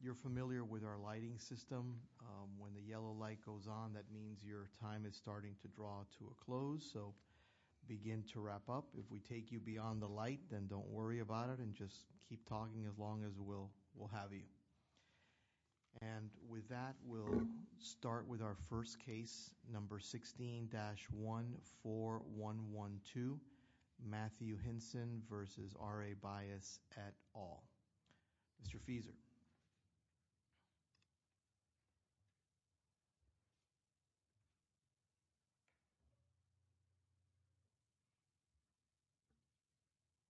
You're familiar with our lighting system. When the yellow light goes on, that means your time is starting to draw to a close, so begin to wrap up. If we take you beyond the light, then don't worry about it and just keep talking as long as we'll we'll have you. And with that, we'll start with our first case, number 16-14112, Matthew Hinson v. R.A. Bias, et al. Mr. Feser.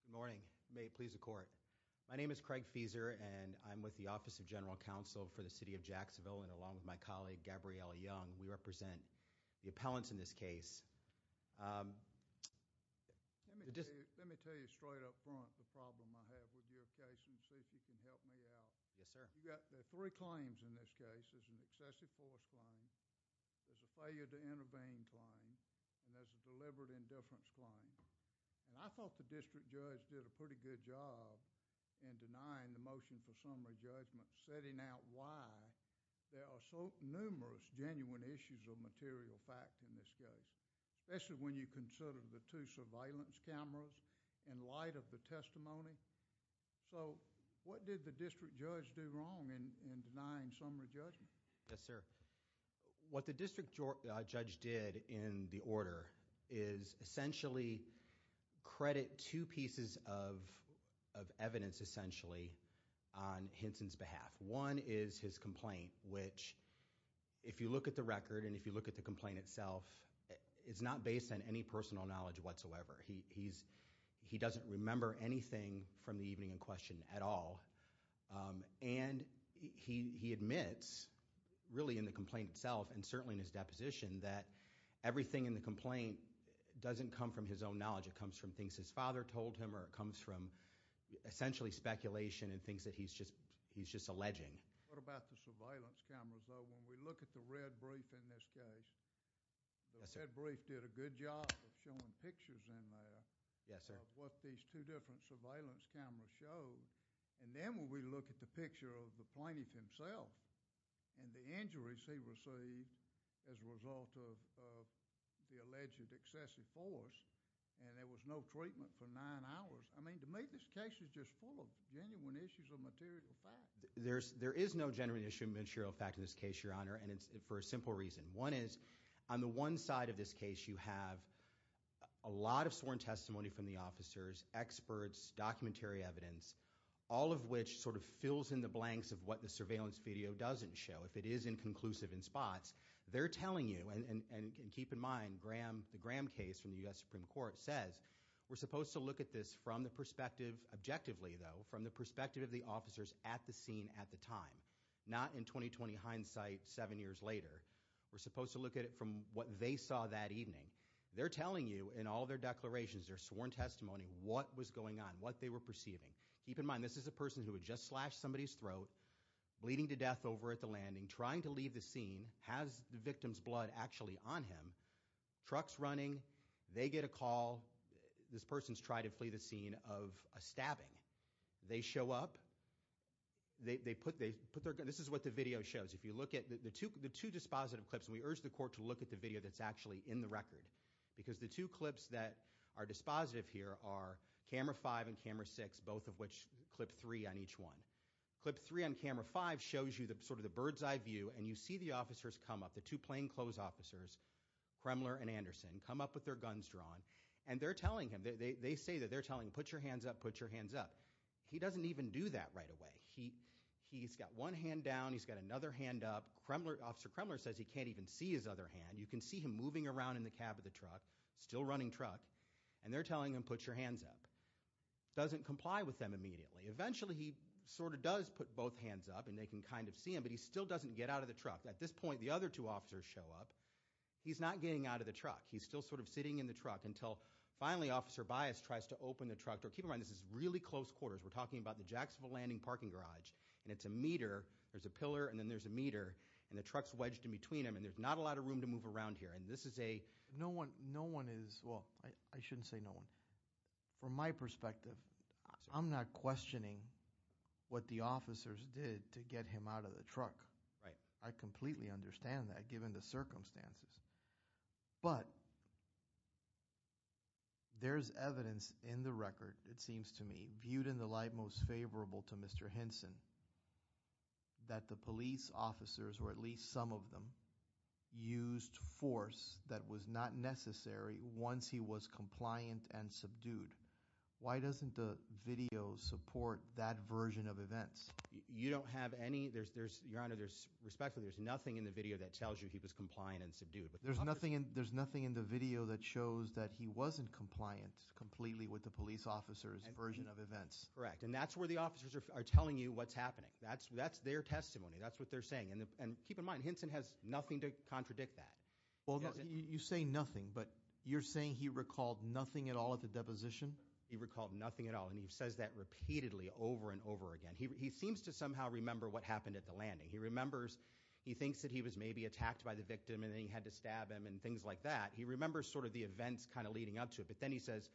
Good morning. May it please the court. My name is Craig Feser and I'm with the Office of General Counsel for the City of Jacksonville and along with my Let me tell you straight up front the problem I have with your case and see if you can help me out. Yes, sir. You've got three claims in this case. There's an excessive force claim, there's a failure to intervene claim, and there's a deliberate indifference claim. And I thought the district judge did a pretty good job in denying the motion for summary judgment, setting out why there are so numerous genuine issues of material fact in this case, especially when you consider the two surveillance cameras in light of the testimony. So, what did the district judge do wrong in denying summary judgment? Yes, sir. What the district judge did in the order is essentially credit two pieces of evidence essentially on Hinson's behalf. One is his complaint, which if you look at the He doesn't remember anything from the evening in question at all. And he admits really in the complaint itself and certainly in his deposition that everything in the complaint doesn't come from his own knowledge. It comes from things his father told him or it comes from essentially speculation and things that he's just alleging. What about the surveillance cameras though? When we look at the red brief in this case, the red brief did a good job of showing pictures in there of what these two different surveillance cameras show. And then when we look at the picture of the plaintiff himself and the injuries he received as a result of the alleged excessive force and there was no treatment for nine hours, I mean to me this case is just full of genuine issues of material fact. There is no genuine issue of material fact in this case, Your Honor, and it's for a simple reason. One is on the one side of this case you have a lot of sworn testimony from the officers, experts, documentary evidence, all of which sort of fills in the blanks of what the surveillance video doesn't show. If it is inconclusive in spots, they're telling you, and keep in mind, the Graham case from the U.S. Supreme Court says we're supposed to look at this from the perspective, objectively though, from the perspective of the officers at the scene at the time, not in 20-20 hindsight seven years later. We're supposed to look at it from what they saw that evening. They're telling you in all their declarations, their sworn testimony, what was going on, what they were perceiving. Keep in mind, this is a person who had just slashed somebody's throat, bleeding to death over at the landing, trying to leave the scene, has the victim's blood actually on him, truck's running, they get a call, this person's tried to flee the scene of a stabbing. They show up, they put their, this is what the video shows. If you look at the two dispositive clips, and we urge the court to look at the video that's actually in the record, because the two clips that are dispositive here are camera five and camera six, both of which clip three on each one. Clip three on camera five shows you sort of the bird's eye view, and you see the officers come up, the two plainclothes officers, Kremler and Anderson, come up with their guns drawn, and they're telling him, they say that they're telling him, put your hands up, put your hands up. He doesn't even do that right away. He's got one hand down, he's got another hand up. Officer Kremler says he can't even see his other hand. You can see him moving around in the cab of the truck, still running truck, and they're telling him, put your hands up. Doesn't comply with them immediately. Eventually, he sort of does put both hands up, and they can kind of see him, but he still doesn't get out of the truck. At this point, the other two officers show up. He's not getting out of the truck. He's still sort of sitting in the truck until finally Officer Bias tries to open the truck door. Keep in mind, this is really close quarters. We're talking about the Jacksonville Landing parking garage, and it's a meter. There's a pillar, and then there's a meter, and the truck's wedged in between them, and there's not a lot of room to move around here, and this is a... No one, no one is, well, I shouldn't say no one. From my perspective, I'm not questioning what the officers did to get him out of the truck. I completely understand that, given the circumstances, but there's evidence in the record, it seems to me, viewed in the light most favorable to Mr. Hinson, that the police officers, or at least some of them, used force that was not necessary once he was compliant and subdued. Why doesn't the video support that version of events? Your Honor, respectfully, there's nothing in the video that tells you he was compliant and subdued. There's nothing in the video that shows that he wasn't compliant completely with the police officers' version of events. Correct, and that's where the officers are telling you what's happening. That's their testimony. That's what they're saying, and keep in mind, Hinson has nothing to contradict that. Well, you say nothing, but you're saying he recalled nothing at all at the deposition? He recalled nothing at all, and he says that repeatedly, over and over again. He seems to somehow remember what happened at the landing. He remembers, he thinks that he was maybe attacked by the victim, and then he had to stab him, and things like that. He remembers sort of the events kind of leading up to it, but then he says,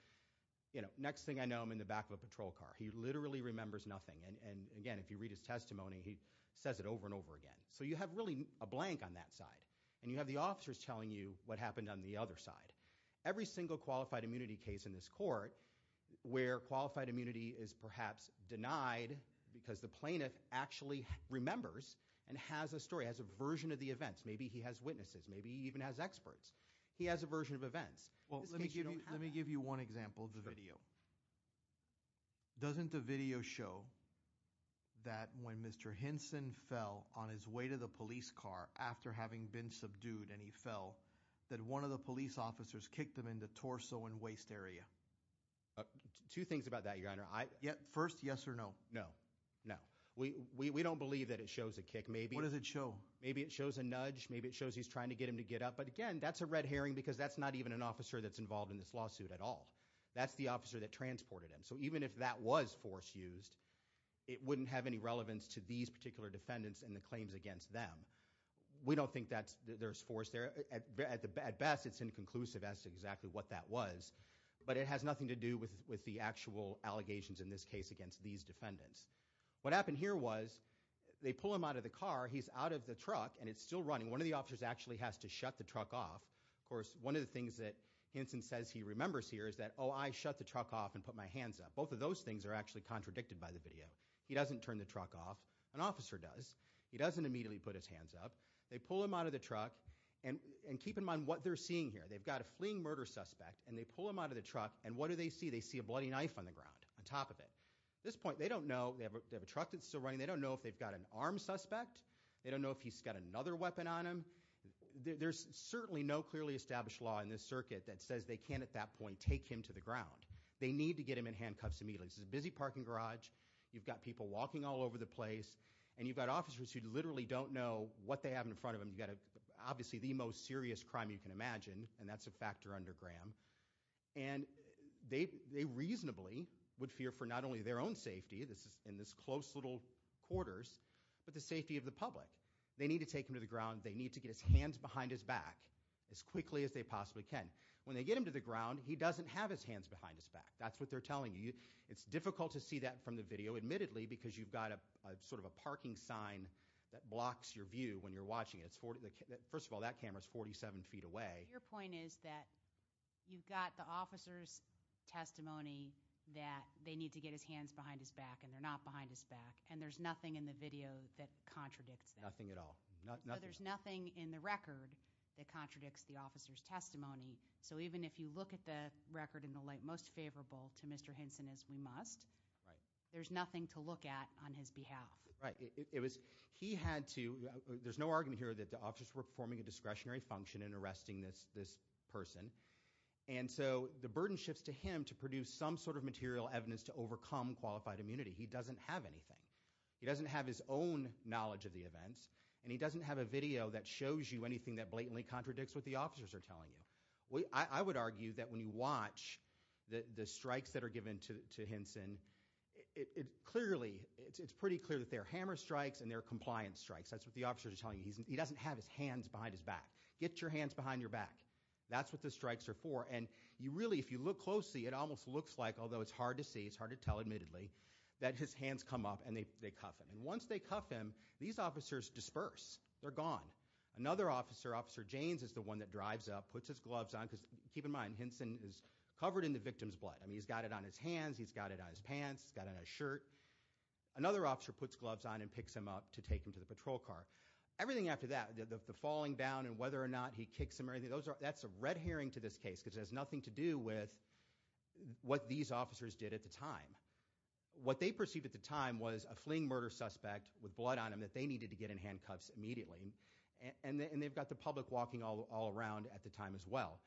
you know, next thing I know, I'm in the back of a patrol car. He literally remembers nothing, and again, if you read his testimony, he says it over and over again. So you have really a blank on that side, and you have the officers telling you what happened on the other side. Every single qualified immunity case in this court where qualified immunity is perhaps denied because the plaintiff actually remembers and has a story, has a version of the events. Maybe he has witnesses. Maybe he even has experts. He has a version of events. Well, let me give you one example of the video. Doesn't the video show that when Mr. Hinson fell on his way to the police car after having been subdued, and he fell, that one of the police officers kicked him in the torso and waist area? Two things about that, Your Honor. First, yes or no? No, no. We don't believe that it shows a kick. What does it show? Maybe it shows a nudge. Maybe it shows he's trying to get him to get up, but again, that's a red herring because that's not even an officer that's involved in this lawsuit at all. That's the officer that transported him. So even if that was force used, it wouldn't have any relevance to these particular defendants and the claims against them. We don't think that there's force there. At best, it's inconclusive as to exactly what that was, but it has nothing to do with the actual allegations in this case against these defendants. What happened here was they pull him out of the car. He's out of the truck and it's still running. One of the officers actually has to shut the truck off. Of course, one of the things that Hinson says he remembers here is that, oh, I shut the truck off and put my hands up. Both of those things are actually contradicted by the video. He doesn't turn the truck off. An officer does. He doesn't immediately put his hands up. They pull him out of the truck and keep in mind what they're seeing here. They've got a fleeing murder suspect and they pull him out of the truck and what do they see? They see a bloody knife on the ground, on top of it. At this point, they don't know. They have a truck that's still running. They don't know if they've got an armed suspect. They don't know if he's got another weapon on him. There's certainly no clearly established law in this circuit that says they can't at that point take him to the ground. They need to get him in handcuffs immediately. This is a busy parking garage. You've got people walking all over the place and you've got officers who literally don't know what they have in front of them. You've got obviously the most serious crime you can imagine and that's a factor under Graham. And they reasonably would fear for not only their own safety in this close little quarters, but the safety of the public. They need to take him to the ground. They need to get his hands behind his back as quickly as they possibly can. When they get him to the ground, he doesn't have his hands behind his back. That's what they're telling you. It's difficult to see that from the video, admittedly, because you've got sort of a parking sign that blocks your view when you're watching it. First of all, that camera is 47 feet away. Your point is that you've got the officer's testimony that they need to get his hands behind his back and they're not behind his back and there's nothing in the video that contradicts that. Nothing at all. There's nothing in the record that contradicts the officer's testimony. So even if you look at the record in the light most favorable to you, there's nothing to look at on his behalf. Right. There's no argument here that the officers were performing a discretionary function in arresting this person. And so the burden shifts to him to produce some sort of material evidence to overcome qualified immunity. He doesn't have anything. He doesn't have his own knowledge of the events and he doesn't have a video that shows you anything that blatantly contradicts what the officers are telling you. I would argue that when you watch the strikes that were given to Hinson, it clearly, it's pretty clear that they're hammer strikes and they're compliance strikes. That's what the officers are telling you. He doesn't have his hands behind his back. Get your hands behind your back. That's what the strikes are for. And you really, if you look closely, it almost looks like, although it's hard to see, it's hard to tell admittedly, that his hands come up and they cuff him. And once they cuff him, these officers disperse. They're gone. Another officer, Officer Janes, is the one that drives up, puts his gloves on, because keep in mind, Hinson is covered in the victim's blood. I mean, he's got it on his hands, he's got it on his pants, he's got it on his shirt. Another officer puts gloves on and picks him up to take him to the patrol car. Everything after that, the falling down and whether or not he kicks him or anything, that's a red herring to this case, because it has nothing to do with what these officers did at the time. What they perceived at the time was a fleeing murder suspect with blood on him that they needed to get in handcuffs immediately. And they've got the public walking all around at the time as well.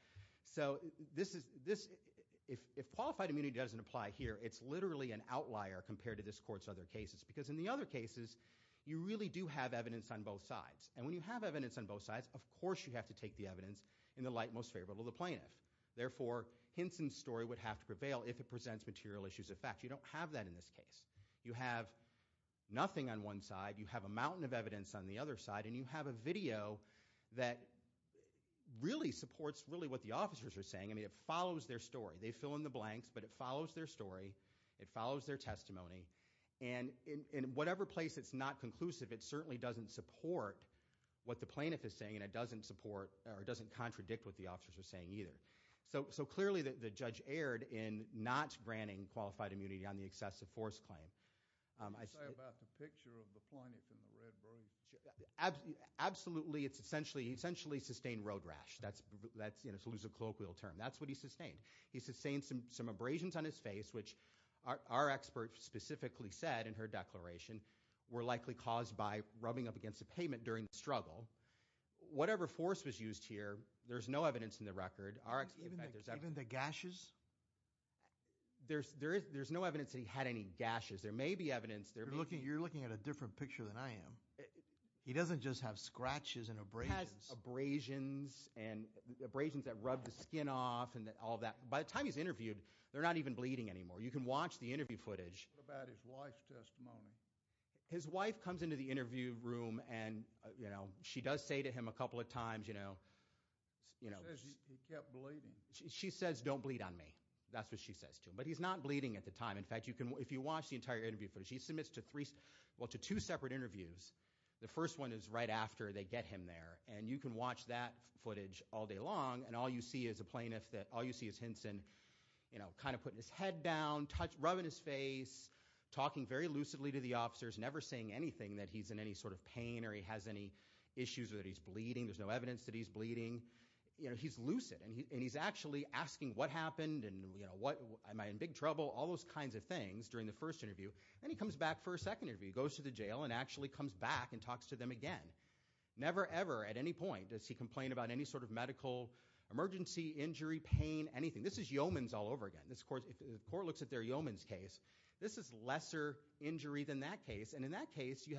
So if qualified immunity doesn't apply here, it's literally an outlier compared to this court's other cases, because in the other cases, you really do have evidence on both sides. And when you have evidence on both sides, of course you have to take the evidence in the light most favorable to the plaintiff. Therefore, Hinson's story would have to prevail if it presents material issues of fact. You don't have that in this case. You have nothing on one side, you have a mountain of evidence on the other side, and you have a video that really supports what the officers are saying. I mean, it follows their story. They fill in the blanks, but it follows their story, it follows their testimony, and in whatever place it's not conclusive, it certainly doesn't support what the plaintiff is saying and it doesn't support or it doesn't contradict what the officers are saying either. So clearly the judge erred in not granting qualified immunity on the excessive force claim. What do you say about the picture of the plaintiff in the red brief? Absolutely, it's essentially sustained road rash, to use a colloquial term. That's what he sustained. He sustained some abrasions on his face, which our expert specifically said in her declaration, were likely caused by rubbing up against a pavement during the struggle. Whatever force was used here, there's no evidence in the record. Even the gashes? There's no evidence that he had any gashes. There may be evidence. You're looking at a different picture than I am. He doesn't just have scratches and abrasions. He has abrasions and abrasions that rub the skin off and all that. By the time he's interviewed, they're not even bleeding anymore. You can watch the interview footage. What about his wife's testimony? His wife comes into the interview room and, you know, she does say to him a couple of She says, he kept bleeding. She says, don't bleed on me. That's what she says to him. But he's not bleeding at the time. In fact, if you watch the entire interview footage, he submits to two separate interviews. The first one is right after they get him there. And you can watch that footage all day long, and all you see is Hinson kind of putting his head down, rubbing his face, talking very lucidly to the officers, never saying anything that he's in any sort of pain or he has any issues or that he's bleeding. There's no evidence that he's bleeding. He's lucid, and he's actually asking what happened and am I in big trouble, all those kinds of things during the first interview. Then he comes back for a second interview. He goes to the jail and actually comes back and talks to them again. Never, ever at any point does he complain about any sort of medical emergency, injury, pain, anything. This is Yeomans all over again. If the court looks at their Yeomans case, this is lesser injury than that case. And in that case, you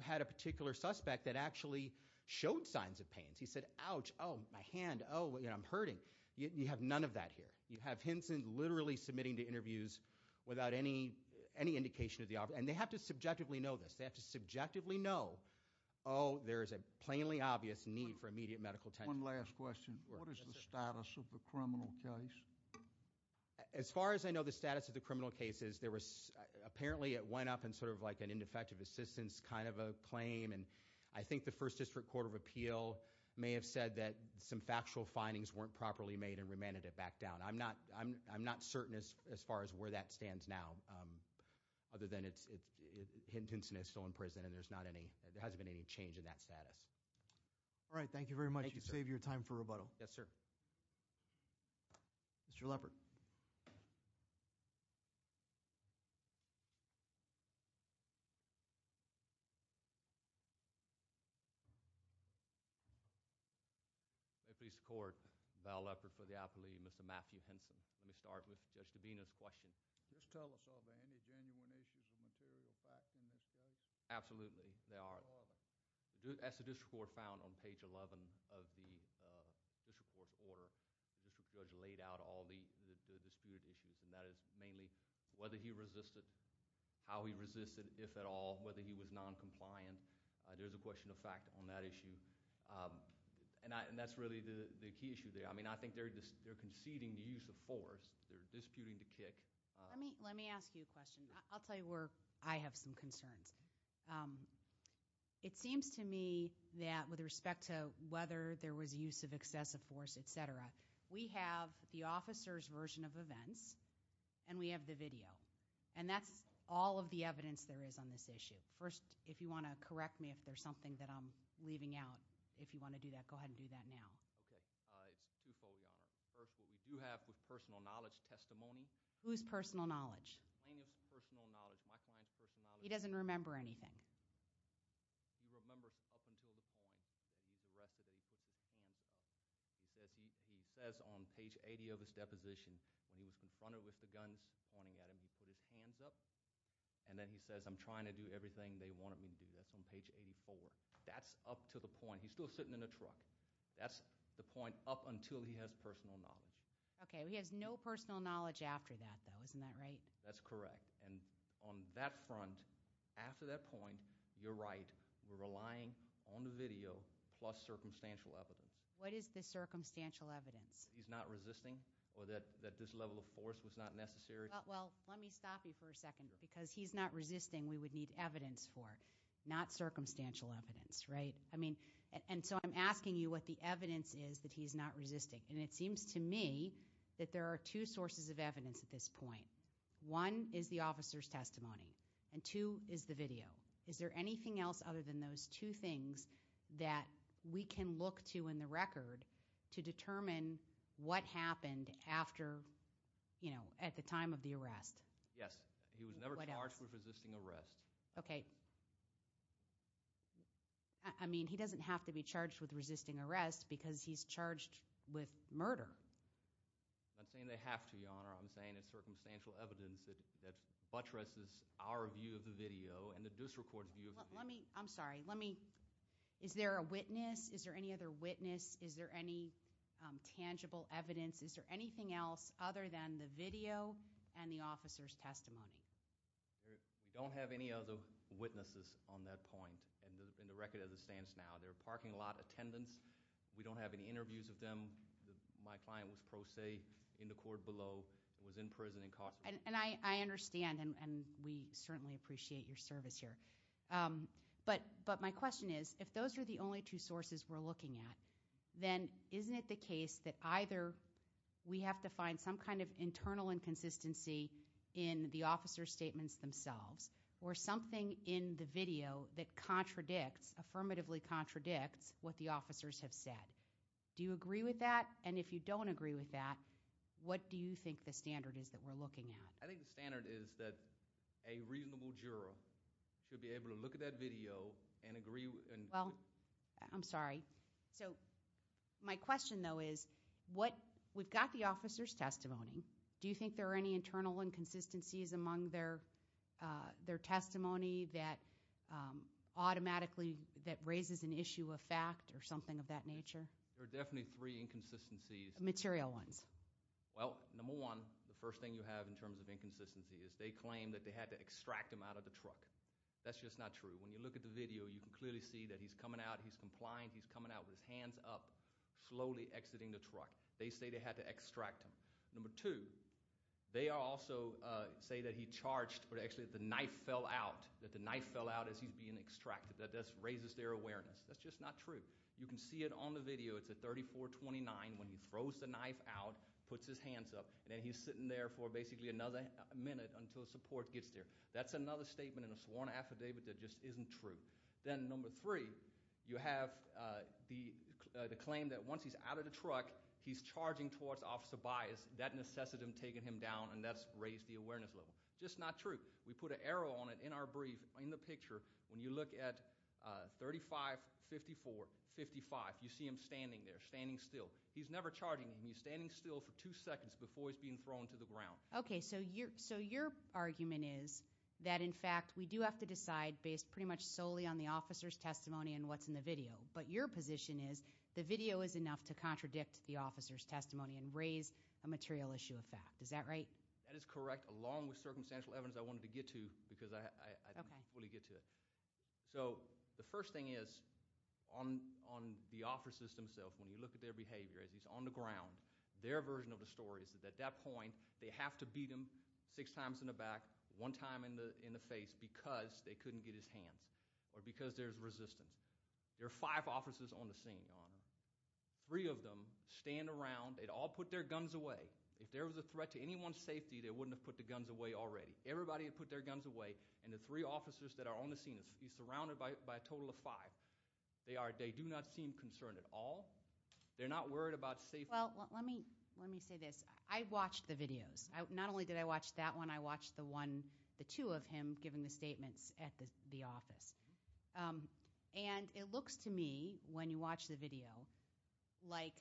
had a particular suspect that actually showed signs of pain. He said, ouch, oh, my hand, oh, I'm hurting. You have none of that here. You have Hinson literally submitting to interviews without any indication of the officer. And they have to subjectively know this. They have to subjectively know, oh, there is a plainly obvious need for immediate medical attention. One last question. What is the status of the criminal case? As far as I know, the status of the criminal case is there was apparently it went up and sort of like an ineffective assistance kind of a claim. And I think the First District Court of Appeal may have said that some factual findings weren't properly made and remanded it back down. I'm not certain as far as where that stands now other than Hinson is still in prison and there hasn't been any change in that status. All right, thank you very much. Thank you, sir. You saved your time for rebuttal. Yes, sir. Mr. Leppert. May it please the Court, Val Leppert for the appealee and Mr. Matthew Hinson. Let me start with Judge Dabena's question. Does this tell us of any genuine issues or material facts in this case? Absolutely, they are. As the district court found on page 11 of the district court's order, the district judge laid out all the disputed issues, and that is mainly whether he resisted, how he resisted, if at all, whether he was noncompliant. There's a question of fact on that issue, and that's really the key issue there. I mean I think they're conceding the use of force. They're disputing the kick. Let me ask you a question. I'll tell you where I have some concerns. It seems to me that with respect to whether there was use of excessive force, et cetera, we have the officer's version of events and we have the video, and that's all of the evidence there is on this issue. First, if you want to correct me if there's something that I'm leaving out, if you want to do that, go ahead and do that now. Okay. It's twofold, Your Honor. First, what we do have with personal knowledge testimony. Who's personal knowledge? Plaintiff's personal knowledge. My client's personal knowledge. He doesn't remember anything. He remembers up until the point that he was arrested that he put his hands up. He says on page 80 of his deposition when he was confronted with the guns pointing at him, he put his hands up, and then he says, I'm trying to do everything they wanted me to do. That's on page 84. That's up to the point. He's still sitting in a truck. That's the point up until he has personal knowledge. Okay. He has no personal knowledge after that though, isn't that right? That's correct. And on that front, after that point, you're right. We're relying on the video plus circumstantial evidence. What is the circumstantial evidence? He's not resisting or that this level of force was not necessary. Well, let me stop you for a second because he's not resisting. We would need evidence for it, not circumstantial evidence, right? I mean, and so I'm asking you what the evidence is that he's not resisting. And it seems to me that there are two sources of evidence at this point. One is the officer's testimony, and two is the video. Is there anything else other than those two things that we can look to in the record to determine what happened after, you know, at the time of the arrest? Yes. He was never charged with resisting arrest. Okay. I mean, he doesn't have to be charged with resisting arrest because he's charged with murder. I'm not saying they have to, Your Honor. I'm saying it's circumstantial evidence that buttresses our view of the video and the district court's view of the video. I'm sorry. Is there a witness? Is there any other witness? Is there any tangible evidence? Is there anything else other than the video and the officer's testimony? We don't have any other witnesses on that point in the record as it stands now. There are parking lot attendants. We don't have any interviews of them. My client was pro se in the court below, was in prison in Costco. And I understand, and we certainly appreciate your service here. But my question is, if those are the only two sources we're looking at, then isn't it the case that either we have to find some kind of internal inconsistency in the officer's statements themselves or something in the video that contradicts, affirmatively contradicts, what the officers have said? Do you agree with that? And if you don't agree with that, what do you think the standard is that we're looking at? I think the standard is that a reasonable juror should be able to look at that video and agree. Well, I'm sorry. My question, though, is we've got the officer's testimony. Do you think there are any internal inconsistencies among their testimony that automatically raises an issue of fact or something of that nature? There are definitely three inconsistencies. Material ones. Well, number one, the first thing you have in terms of inconsistency is they claim that they had to extract him out of the truck. That's just not true. When you look at the video, you can clearly see that he's coming out. He's coming out with his hands up, slowly exiting the truck. They say they had to extract him. Number two, they also say that he charged, but actually that the knife fell out, that the knife fell out as he's being extracted. That just raises their awareness. That's just not true. You can see it on the video. It's at 3429 when he throws the knife out, puts his hands up, and then he's sitting there for basically another minute until support gets there. That's another statement in a sworn affidavit that just isn't true. Then number three, you have the claim that once he's out of the truck, he's charging towards Officer Baez. That necessity of taking him down, and that's raised the awareness level. Just not true. We put an arrow on it in our brief in the picture. When you look at 3554-55, you see him standing there, standing still. He's never charging. He's standing still for two seconds before he's being thrown to the ground. Okay, so your argument is that, in fact, we do have to decide based pretty much solely on the officer's testimony and what's in the video. But your position is the video is enough to contradict the officer's testimony and raise a material issue of fact. Is that right? That is correct, along with circumstantial evidence I wanted to get to because I didn't fully get to it. The first thing is, on the officers themselves, when you look at their behavior as he's on the ground, their version of the story is that at that point they have to beat him six times in the back, one time in the face, because they couldn't get his hands or because there's resistance. There are five officers on the scene, Your Honor. Three of them stand around. They'd all put their guns away. If there was a threat to anyone's safety, they wouldn't have put the guns away already. Everybody had put their guns away, and the three officers that are on the scene, he's surrounded by a total of five. They do not seem concerned at all. They're not worried about safety. Well, let me say this. I watched the videos. Not only did I watch that one. I watched the two of him giving the statements at the office. And it looks to me, when you watch the video, like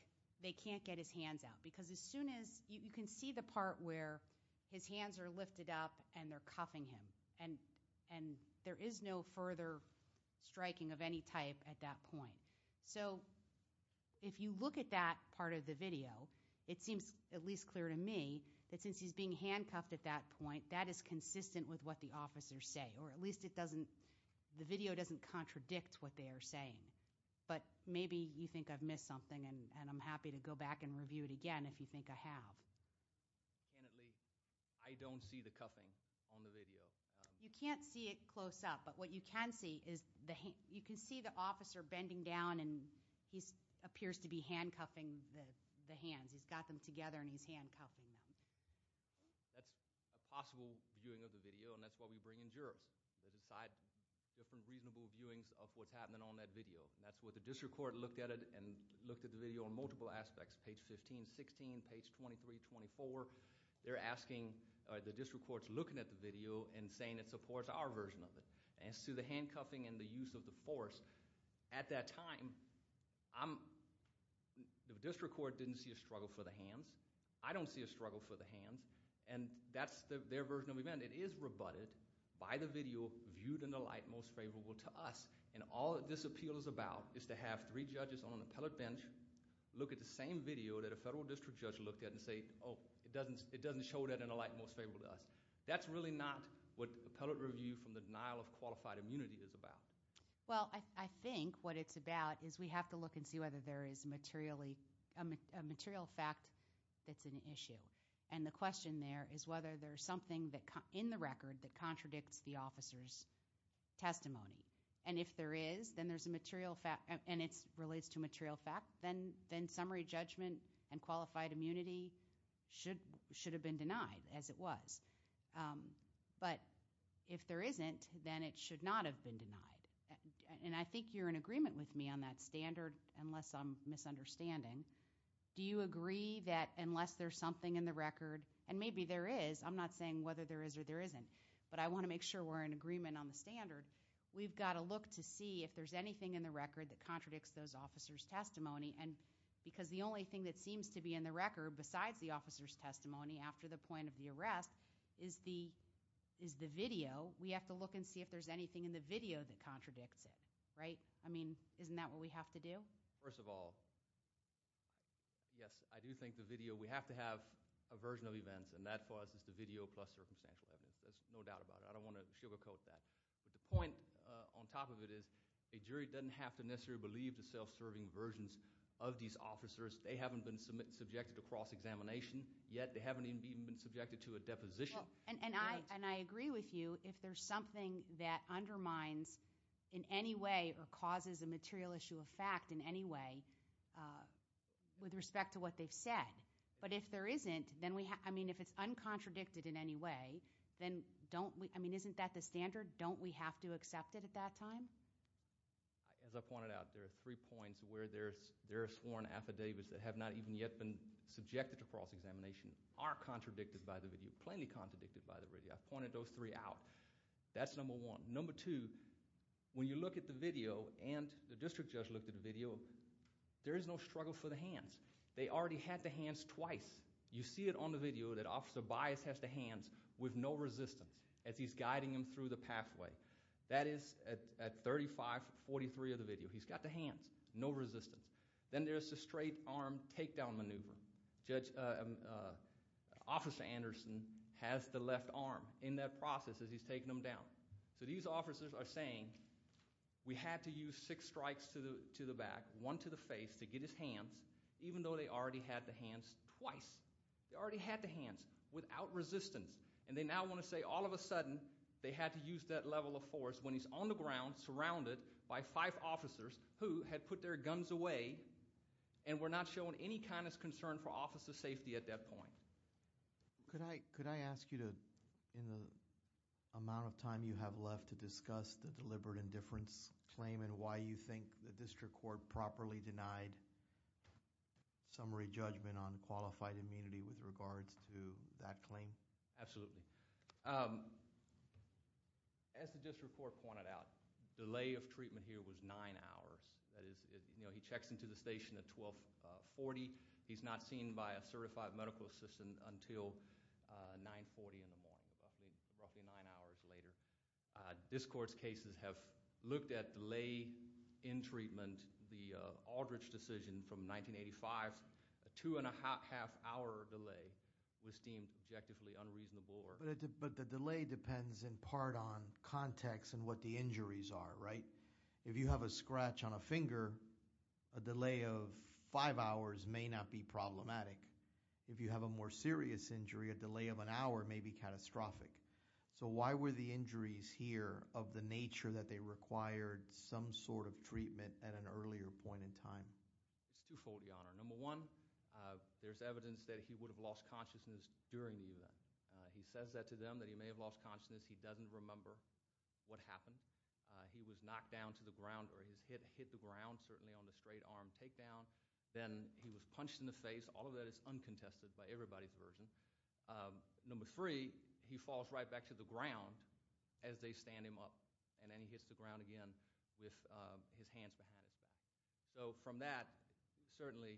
they can't get his hands out because as soon as you can see the part where his hands are lifted up and they're cuffing him, and there is no further striking of any type at that point. So if you look at that part of the video, it seems at least clear to me that since he's being handcuffed at that point, that is consistent with what the officers say, or at least the video doesn't contradict what they are saying. But maybe you think I've missed something, and I'm happy to go back and review it again if you think I have. Apparently, I don't see the cuffing on the video. You can't see it close up, but what you can see is you can see the officer bending down, and he appears to be handcuffing the hands. He's got them together, and he's handcuffing them. That's a possible viewing of the video, and that's why we bring in jurors to decide different reasonable viewings of what's happening on that video. That's why the district court looked at it and looked at the video on multiple aspects, page 15, 16, page 23, 24. They're asking the district courts looking at the video and saying it supports our version of it. As to the handcuffing and the use of the force, at that time, the district court didn't see a struggle for the hands. I don't see a struggle for the hands, and that's their version of the event. It is rebutted by the video viewed in a light most favorable to us, and all that this appeal is about is to have three judges on an appellate bench look at the same video that a federal district judge looked at and say, oh, it doesn't show that in a light most favorable to us. That's really not what appellate review from the denial of qualified immunity is about. Well, I think what it's about is we have to look and see whether there is a material fact that's an issue. And the question there is whether there's something in the record that contradicts the officer's testimony. And if there is, then there's a material fact, and it relates to a material fact, then summary judgment and qualified immunity should have been denied, as it was. But if there isn't, then it should not have been denied. And I think you're in agreement with me on that standard, unless I'm misunderstanding. Do you agree that unless there's something in the record, and maybe there is. I'm not saying whether there is or there isn't, but I want to make sure we're in agreement on the standard. We've got to look to see if there's anything in the record that contradicts those officers' testimony, and because the only thing that seems to be in the record, besides the officer's testimony, after the point of the arrest, is the video. We have to look and see if there's anything in the video that contradicts it, right? I mean, isn't that what we have to do? First of all, yes, I do think the video. We have to have a version of events, and that for us is the video plus circumstantial evidence. There's no doubt about it. I don't want to sugarcoat that. But the point on top of it is a jury doesn't have to necessarily believe the self-serving versions of these officers. They haven't been subjected to cross-examination yet. They haven't even been subjected to a deposition. And I agree with you. If there's something that undermines in any way or causes a material issue of fact in any way with respect to what they've said, but if there isn't, I mean, if it's uncontradicted in any way, then don't we, I mean, isn't that the standard? Don't we have to accept it at that time? As I pointed out, there are three points where there are sworn affidavits that have not even yet been subjected to cross-examination, are contradicted by the video, plainly contradicted by the video. I pointed those three out. That's number one. Number two, when you look at the video and the district judge looked at the video, there is no struggle for the hands. They already had the hands twice. You see it on the video that Officer Bias has the hands with no resistance as he's guiding him through the pathway. That is at 3543 of the video. He's got the hands, no resistance. Then there's the straight arm takedown maneuver. Officer Anderson has the left arm in that process as he's taking them down. So these officers are saying we had to use six strikes to the back, one to the face to get his hands, even though they already had the hands twice. They already had the hands without resistance, and they now want to say all of a sudden they had to use that level of force when he's on the ground surrounded by five officers who had put their guns away and were not showing any kind of concern for officer safety at that point. Could I ask you to, in the amount of time you have left to discuss the deliberate indifference claim and why you think the district court properly denied summary judgment on qualified immunity with regards to that claim? Absolutely. As the district court pointed out, delay of treatment here was nine hours. He checks into the station at 1240. He's not seen by a certified medical assistant until 940 in the morning, roughly nine hours later. This court's cases have looked at delay in treatment. The Aldridge decision from 1985, a two-and-a-half hour delay was deemed objectively unreasonable. But the delay depends in part on context and what the injuries are, right? If you have a scratch on a finger, a delay of five hours may not be problematic. If you have a more serious injury, a delay of an hour may be catastrophic. So why were the injuries here of the nature that they required some sort of treatment at an earlier point in time? It's twofold, Your Honor. Number one, there's evidence that he would have lost consciousness during the event. He says that to them, that he may have lost consciousness. He doesn't remember what happened. He was knocked down to the ground or his head hit the ground, certainly on the straight-arm takedown. Then he was punched in the face. All of that is uncontested by everybody's version. Number three, he falls right back to the ground as they stand him up, and then he hits the ground again with his hands behind his back. So from that, certainly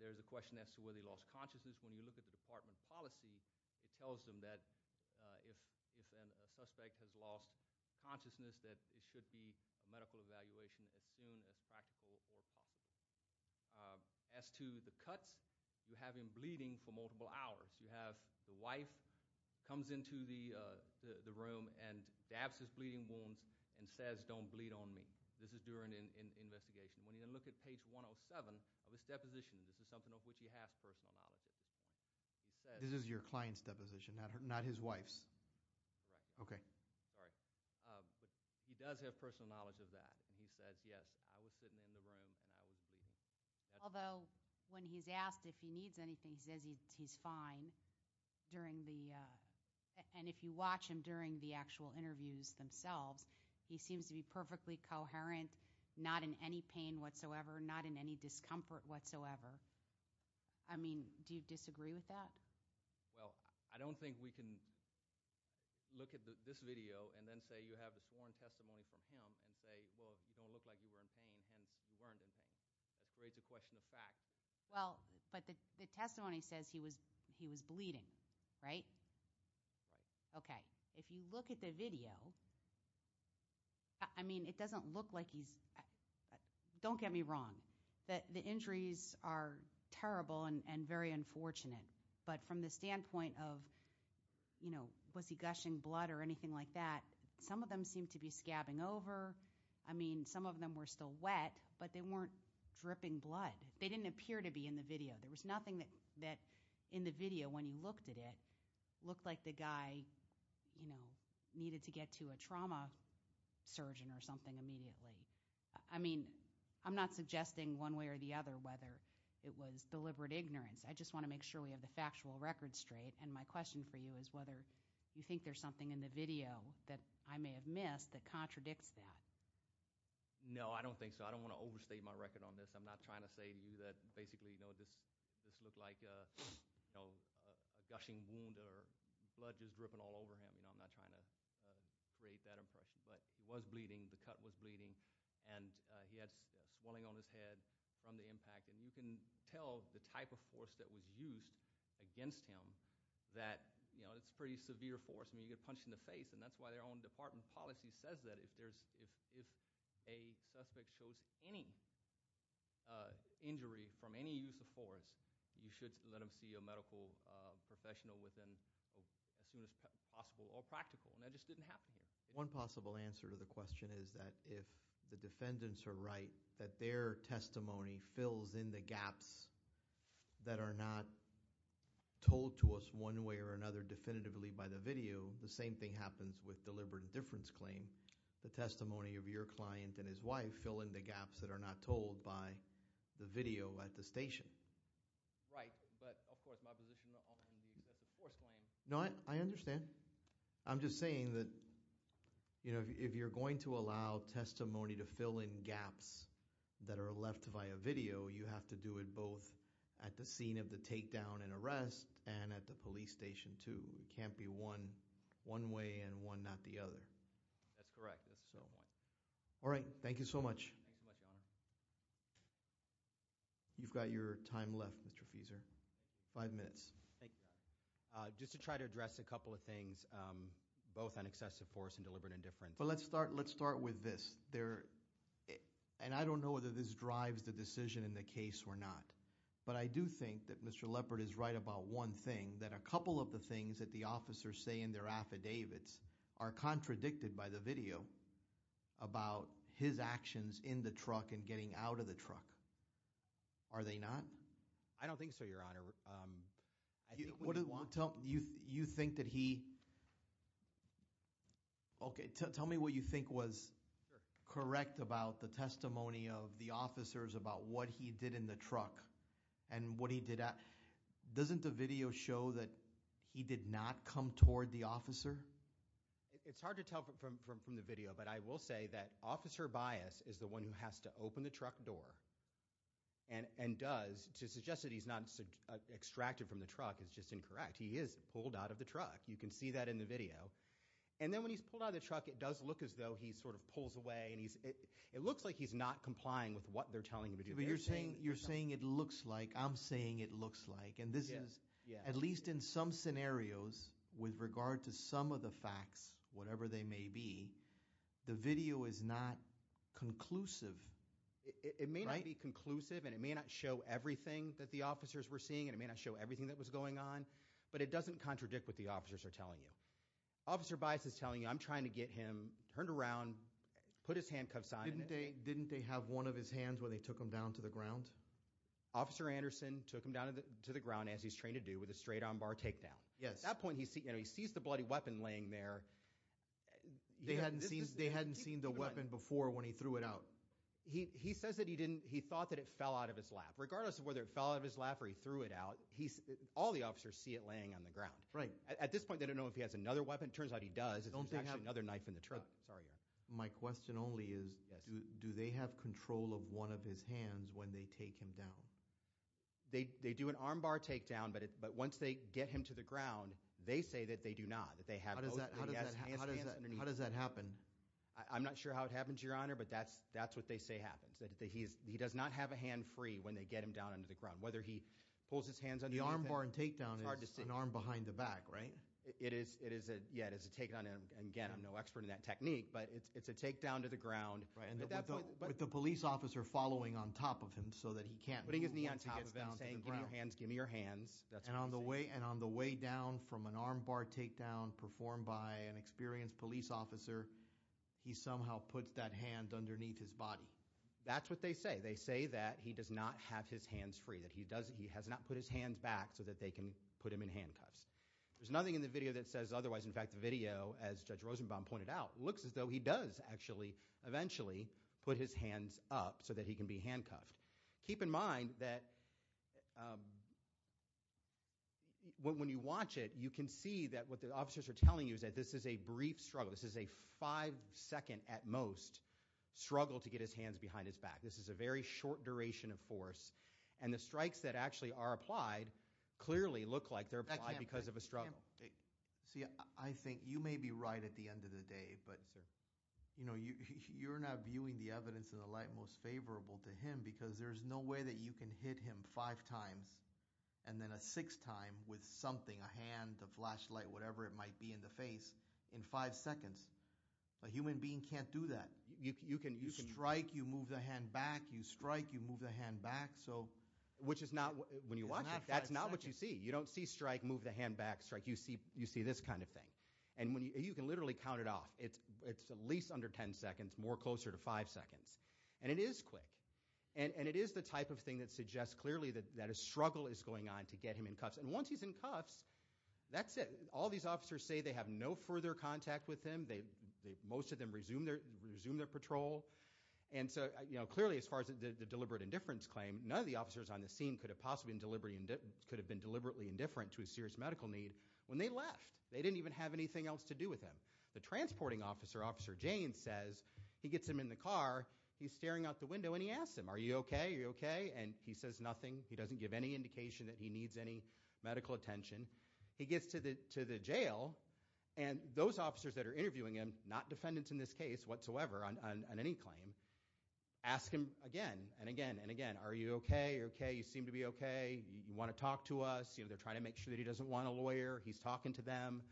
there's a question as to whether he lost consciousness. When you look at the department policy, it tells them that if a suspect has lost consciousness, that it should be a medical evaluation as soon as practical or possible. As to the cuts, you have him bleeding for multiple hours. You have the wife comes into the room and dabs his bleeding wounds and says, don't bleed on me. This is during an investigation. When you look at page 107 of his deposition, this is something of which he has personal knowledge. This is your client's deposition, not his wife's? Correct. Okay. Sorry. He does have personal knowledge of that, and he says, yes, I was sitting in the room and I was bleeding. Although when he's asked if he needs anything, he says he's fine. And if you watch him during the actual interviews themselves, he seems to be perfectly coherent, not in any pain whatsoever, not in any discomfort whatsoever. I mean, do you disagree with that? Well, I don't think we can look at this video and then say you have a sworn testimony from him and say, well, you don't look like you were in pain, hence you weren't in pain. That creates a question of fact. Well, but the testimony says he was bleeding, right? Right. Okay. If you look at the video, I mean, it doesn't look like he's – don't get me wrong. The injuries are terrible and very unfortunate. But from the standpoint of, you know, was he gushing blood or anything like that, some of them seem to be scabbing over. I mean, some of them were still wet, but they weren't dripping blood. They didn't appear to be in the video. There was nothing that in the video when you looked at it looked like the guy, you know, needed to get to a trauma surgeon or something immediately. I mean, I'm not suggesting one way or the other whether it was deliberate ignorance. I just want to make sure we have the factual record straight. And my question for you is whether you think there's something in the video that I may have missed that contradicts that. No, I don't think so. I don't want to overstate my record on this. I'm not trying to say to you that basically, you know, this looked like a gushing wound or blood just dripping all over him. You know, I'm not trying to create that impression. But he was bleeding. The cut was bleeding. And he had swelling on his head from the impact. And you can tell the type of force that was used against him that, you know, it's pretty severe force. I mean, you get punched in the face, and that's why their own department policy says that if a suspect shows any injury from any use of force, you should let them see a medical professional as soon as possible or practical. And that just didn't happen here. One possible answer to the question is that if the defendants are right, that their testimony fills in the gaps that are not told to us one way or another definitively by the video, the same thing happens with deliberate indifference claim. The testimony of your client and his wife fill in the gaps that are not told by the video at the station. Right, but of course my position on the excessive force claim. No, I understand. I'm just saying that, you know, if you're going to allow testimony to fill in gaps that are left via video, you have to do it both at the scene of the takedown and arrest and at the police station too. It can't be one way and one not the other. That's correct. All right, thank you so much. Thanks so much, Your Honor. You've got your time left, Mr. Fieser. Five minutes. Thank you, Your Honor. Just to try to address a couple of things, both on excessive force and deliberate indifference. Let's start with this. And I don't know whether this drives the decision in the case or not, but I do think that Mr. Leopard is right about one thing, that a couple of the things that the officers say in their affidavits are contradicted by the video about his actions in the truck and getting out of the truck. Are they not? I don't think so, Your Honor. You think that he – okay, tell me what you think was correct about the testimony of the officers about what he did in the truck and what he did – doesn't the video show that he did not come toward the officer? It's hard to tell from the video, but I will say that Officer Bias is the one who has to open the truck door and does – to suggest that he's not extracted from the truck is just incorrect. He is pulled out of the truck. You can see that in the video. And then when he's pulled out of the truck, it does look as though he sort of pulls away, and it looks like he's not complying with what they're telling him to do. But you're saying it looks like – I'm saying it looks like, and this is at least in some scenarios with regard to some of the facts, whatever they may be, the video is not conclusive. It may not be conclusive, and it may not show everything that the officers were seeing, and it may not show everything that was going on, but it doesn't contradict what the officers are telling you. Officer Bias is telling you, I'm trying to get him turned around, put his handcuffs on. Didn't they have one of his hands when they took him down to the ground? Officer Anderson took him down to the ground as he's trained to do with a straight-on bar takedown. At that point, he sees the bloody weapon laying there. They hadn't seen the weapon before when he threw it out. He says that he didn't – he thought that it fell out of his lap. Regardless of whether it fell out of his lap or he threw it out, all the officers see it laying on the ground. At this point, they don't know if he has another weapon. It turns out he does. There's actually another knife in the truck. My question only is do they have control of one of his hands when they take him down? They do an arm bar takedown, but once they get him to the ground, they say that they do not, that they have both of his hands underneath. How does that happen? I'm not sure how it happens, Your Honor, but that's what they say happens, that he does not have a hand free when they get him down onto the ground, whether he pulls his hands underneath it. The arm bar takedown is an arm behind the back, right? It is – yeah, it is a takedown, and again, I'm no expert in that technique, but it's a takedown to the ground. With the police officer following on top of him so that he can't – Putting his knee on top of him saying give me your hands, give me your hands. And on the way down from an arm bar takedown performed by an experienced police officer, he somehow puts that hand underneath his body. That's what they say. They say that he does not have his hands free, that he does – he has not put his hands back so that they can put him in handcuffs. There's nothing in the video that says otherwise. In fact, the video, as Judge Rosenbaum pointed out, looks as though he does actually eventually put his hands up so that he can be handcuffed. Keep in mind that when you watch it, you can see that what the officers are telling you is that this is a brief struggle. This is a five-second at most struggle to get his hands behind his back. This is a very short duration of force, and the strikes that actually are applied clearly look like they're applied because of a struggle. See, I think you may be right at the end of the day, but you're not viewing the evidence in the light most favorable to him because there's no way that you can hit him five times and then a sixth time with something, a hand, a flashlight, whatever it might be in the face, in five seconds. A human being can't do that. You strike, you move the hand back, you strike, you move the hand back. Which is not – when you watch it, that's not what you see. You don't see strike, move the hand back, strike. You see this kind of thing. You can literally count it off. It's at least under ten seconds, more closer to five seconds. And it is quick, and it is the type of thing that suggests clearly that a struggle is going on to get him in cuffs. And once he's in cuffs, that's it. All these officers say they have no further contact with him. Most of them resume their patrol. And so clearly, as far as the deliberate indifference claim, none of the officers on the scene could have possibly been deliberately indifferent to a serious medical need when they left. They didn't even have anything else to do with him. The transporting officer, Officer Jane, says he gets him in the car. He's staring out the window, and he asks him, are you okay? Are you okay? And he says nothing. He doesn't give any indication that he needs any medical attention. He gets to the jail, and those officers that are interviewing him, not defendants in this case whatsoever on any claim, ask him again and again and again, are you okay? Are you okay? You seem to be okay. You want to talk to us? They're trying to make sure that he doesn't want a lawyer. He's talking to them.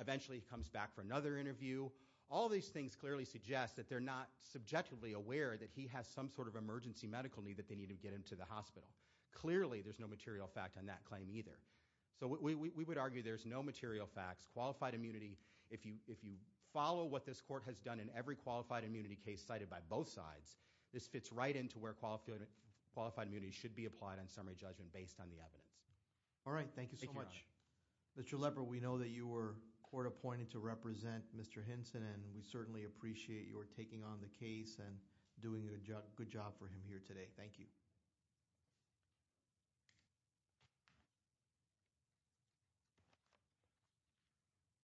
Eventually, he comes back for another interview. All these things clearly suggest that they're not subjectively aware that he has some sort of emergency medical need that they need to get him to the hospital. Clearly, there's no material fact on that claim either. So we would argue there's no material facts. Qualified immunity, if you follow what this court has done in every qualified immunity case cited by both sides, this fits right into where qualified immunity should be applied on summary judgment based on the evidence. All right. Thank you so much. Mr. Lepper, we know that you were court appointed to represent Mr. Hinson, and we certainly appreciate your taking on the case and doing a good job for him here today. Thank you. Thank you.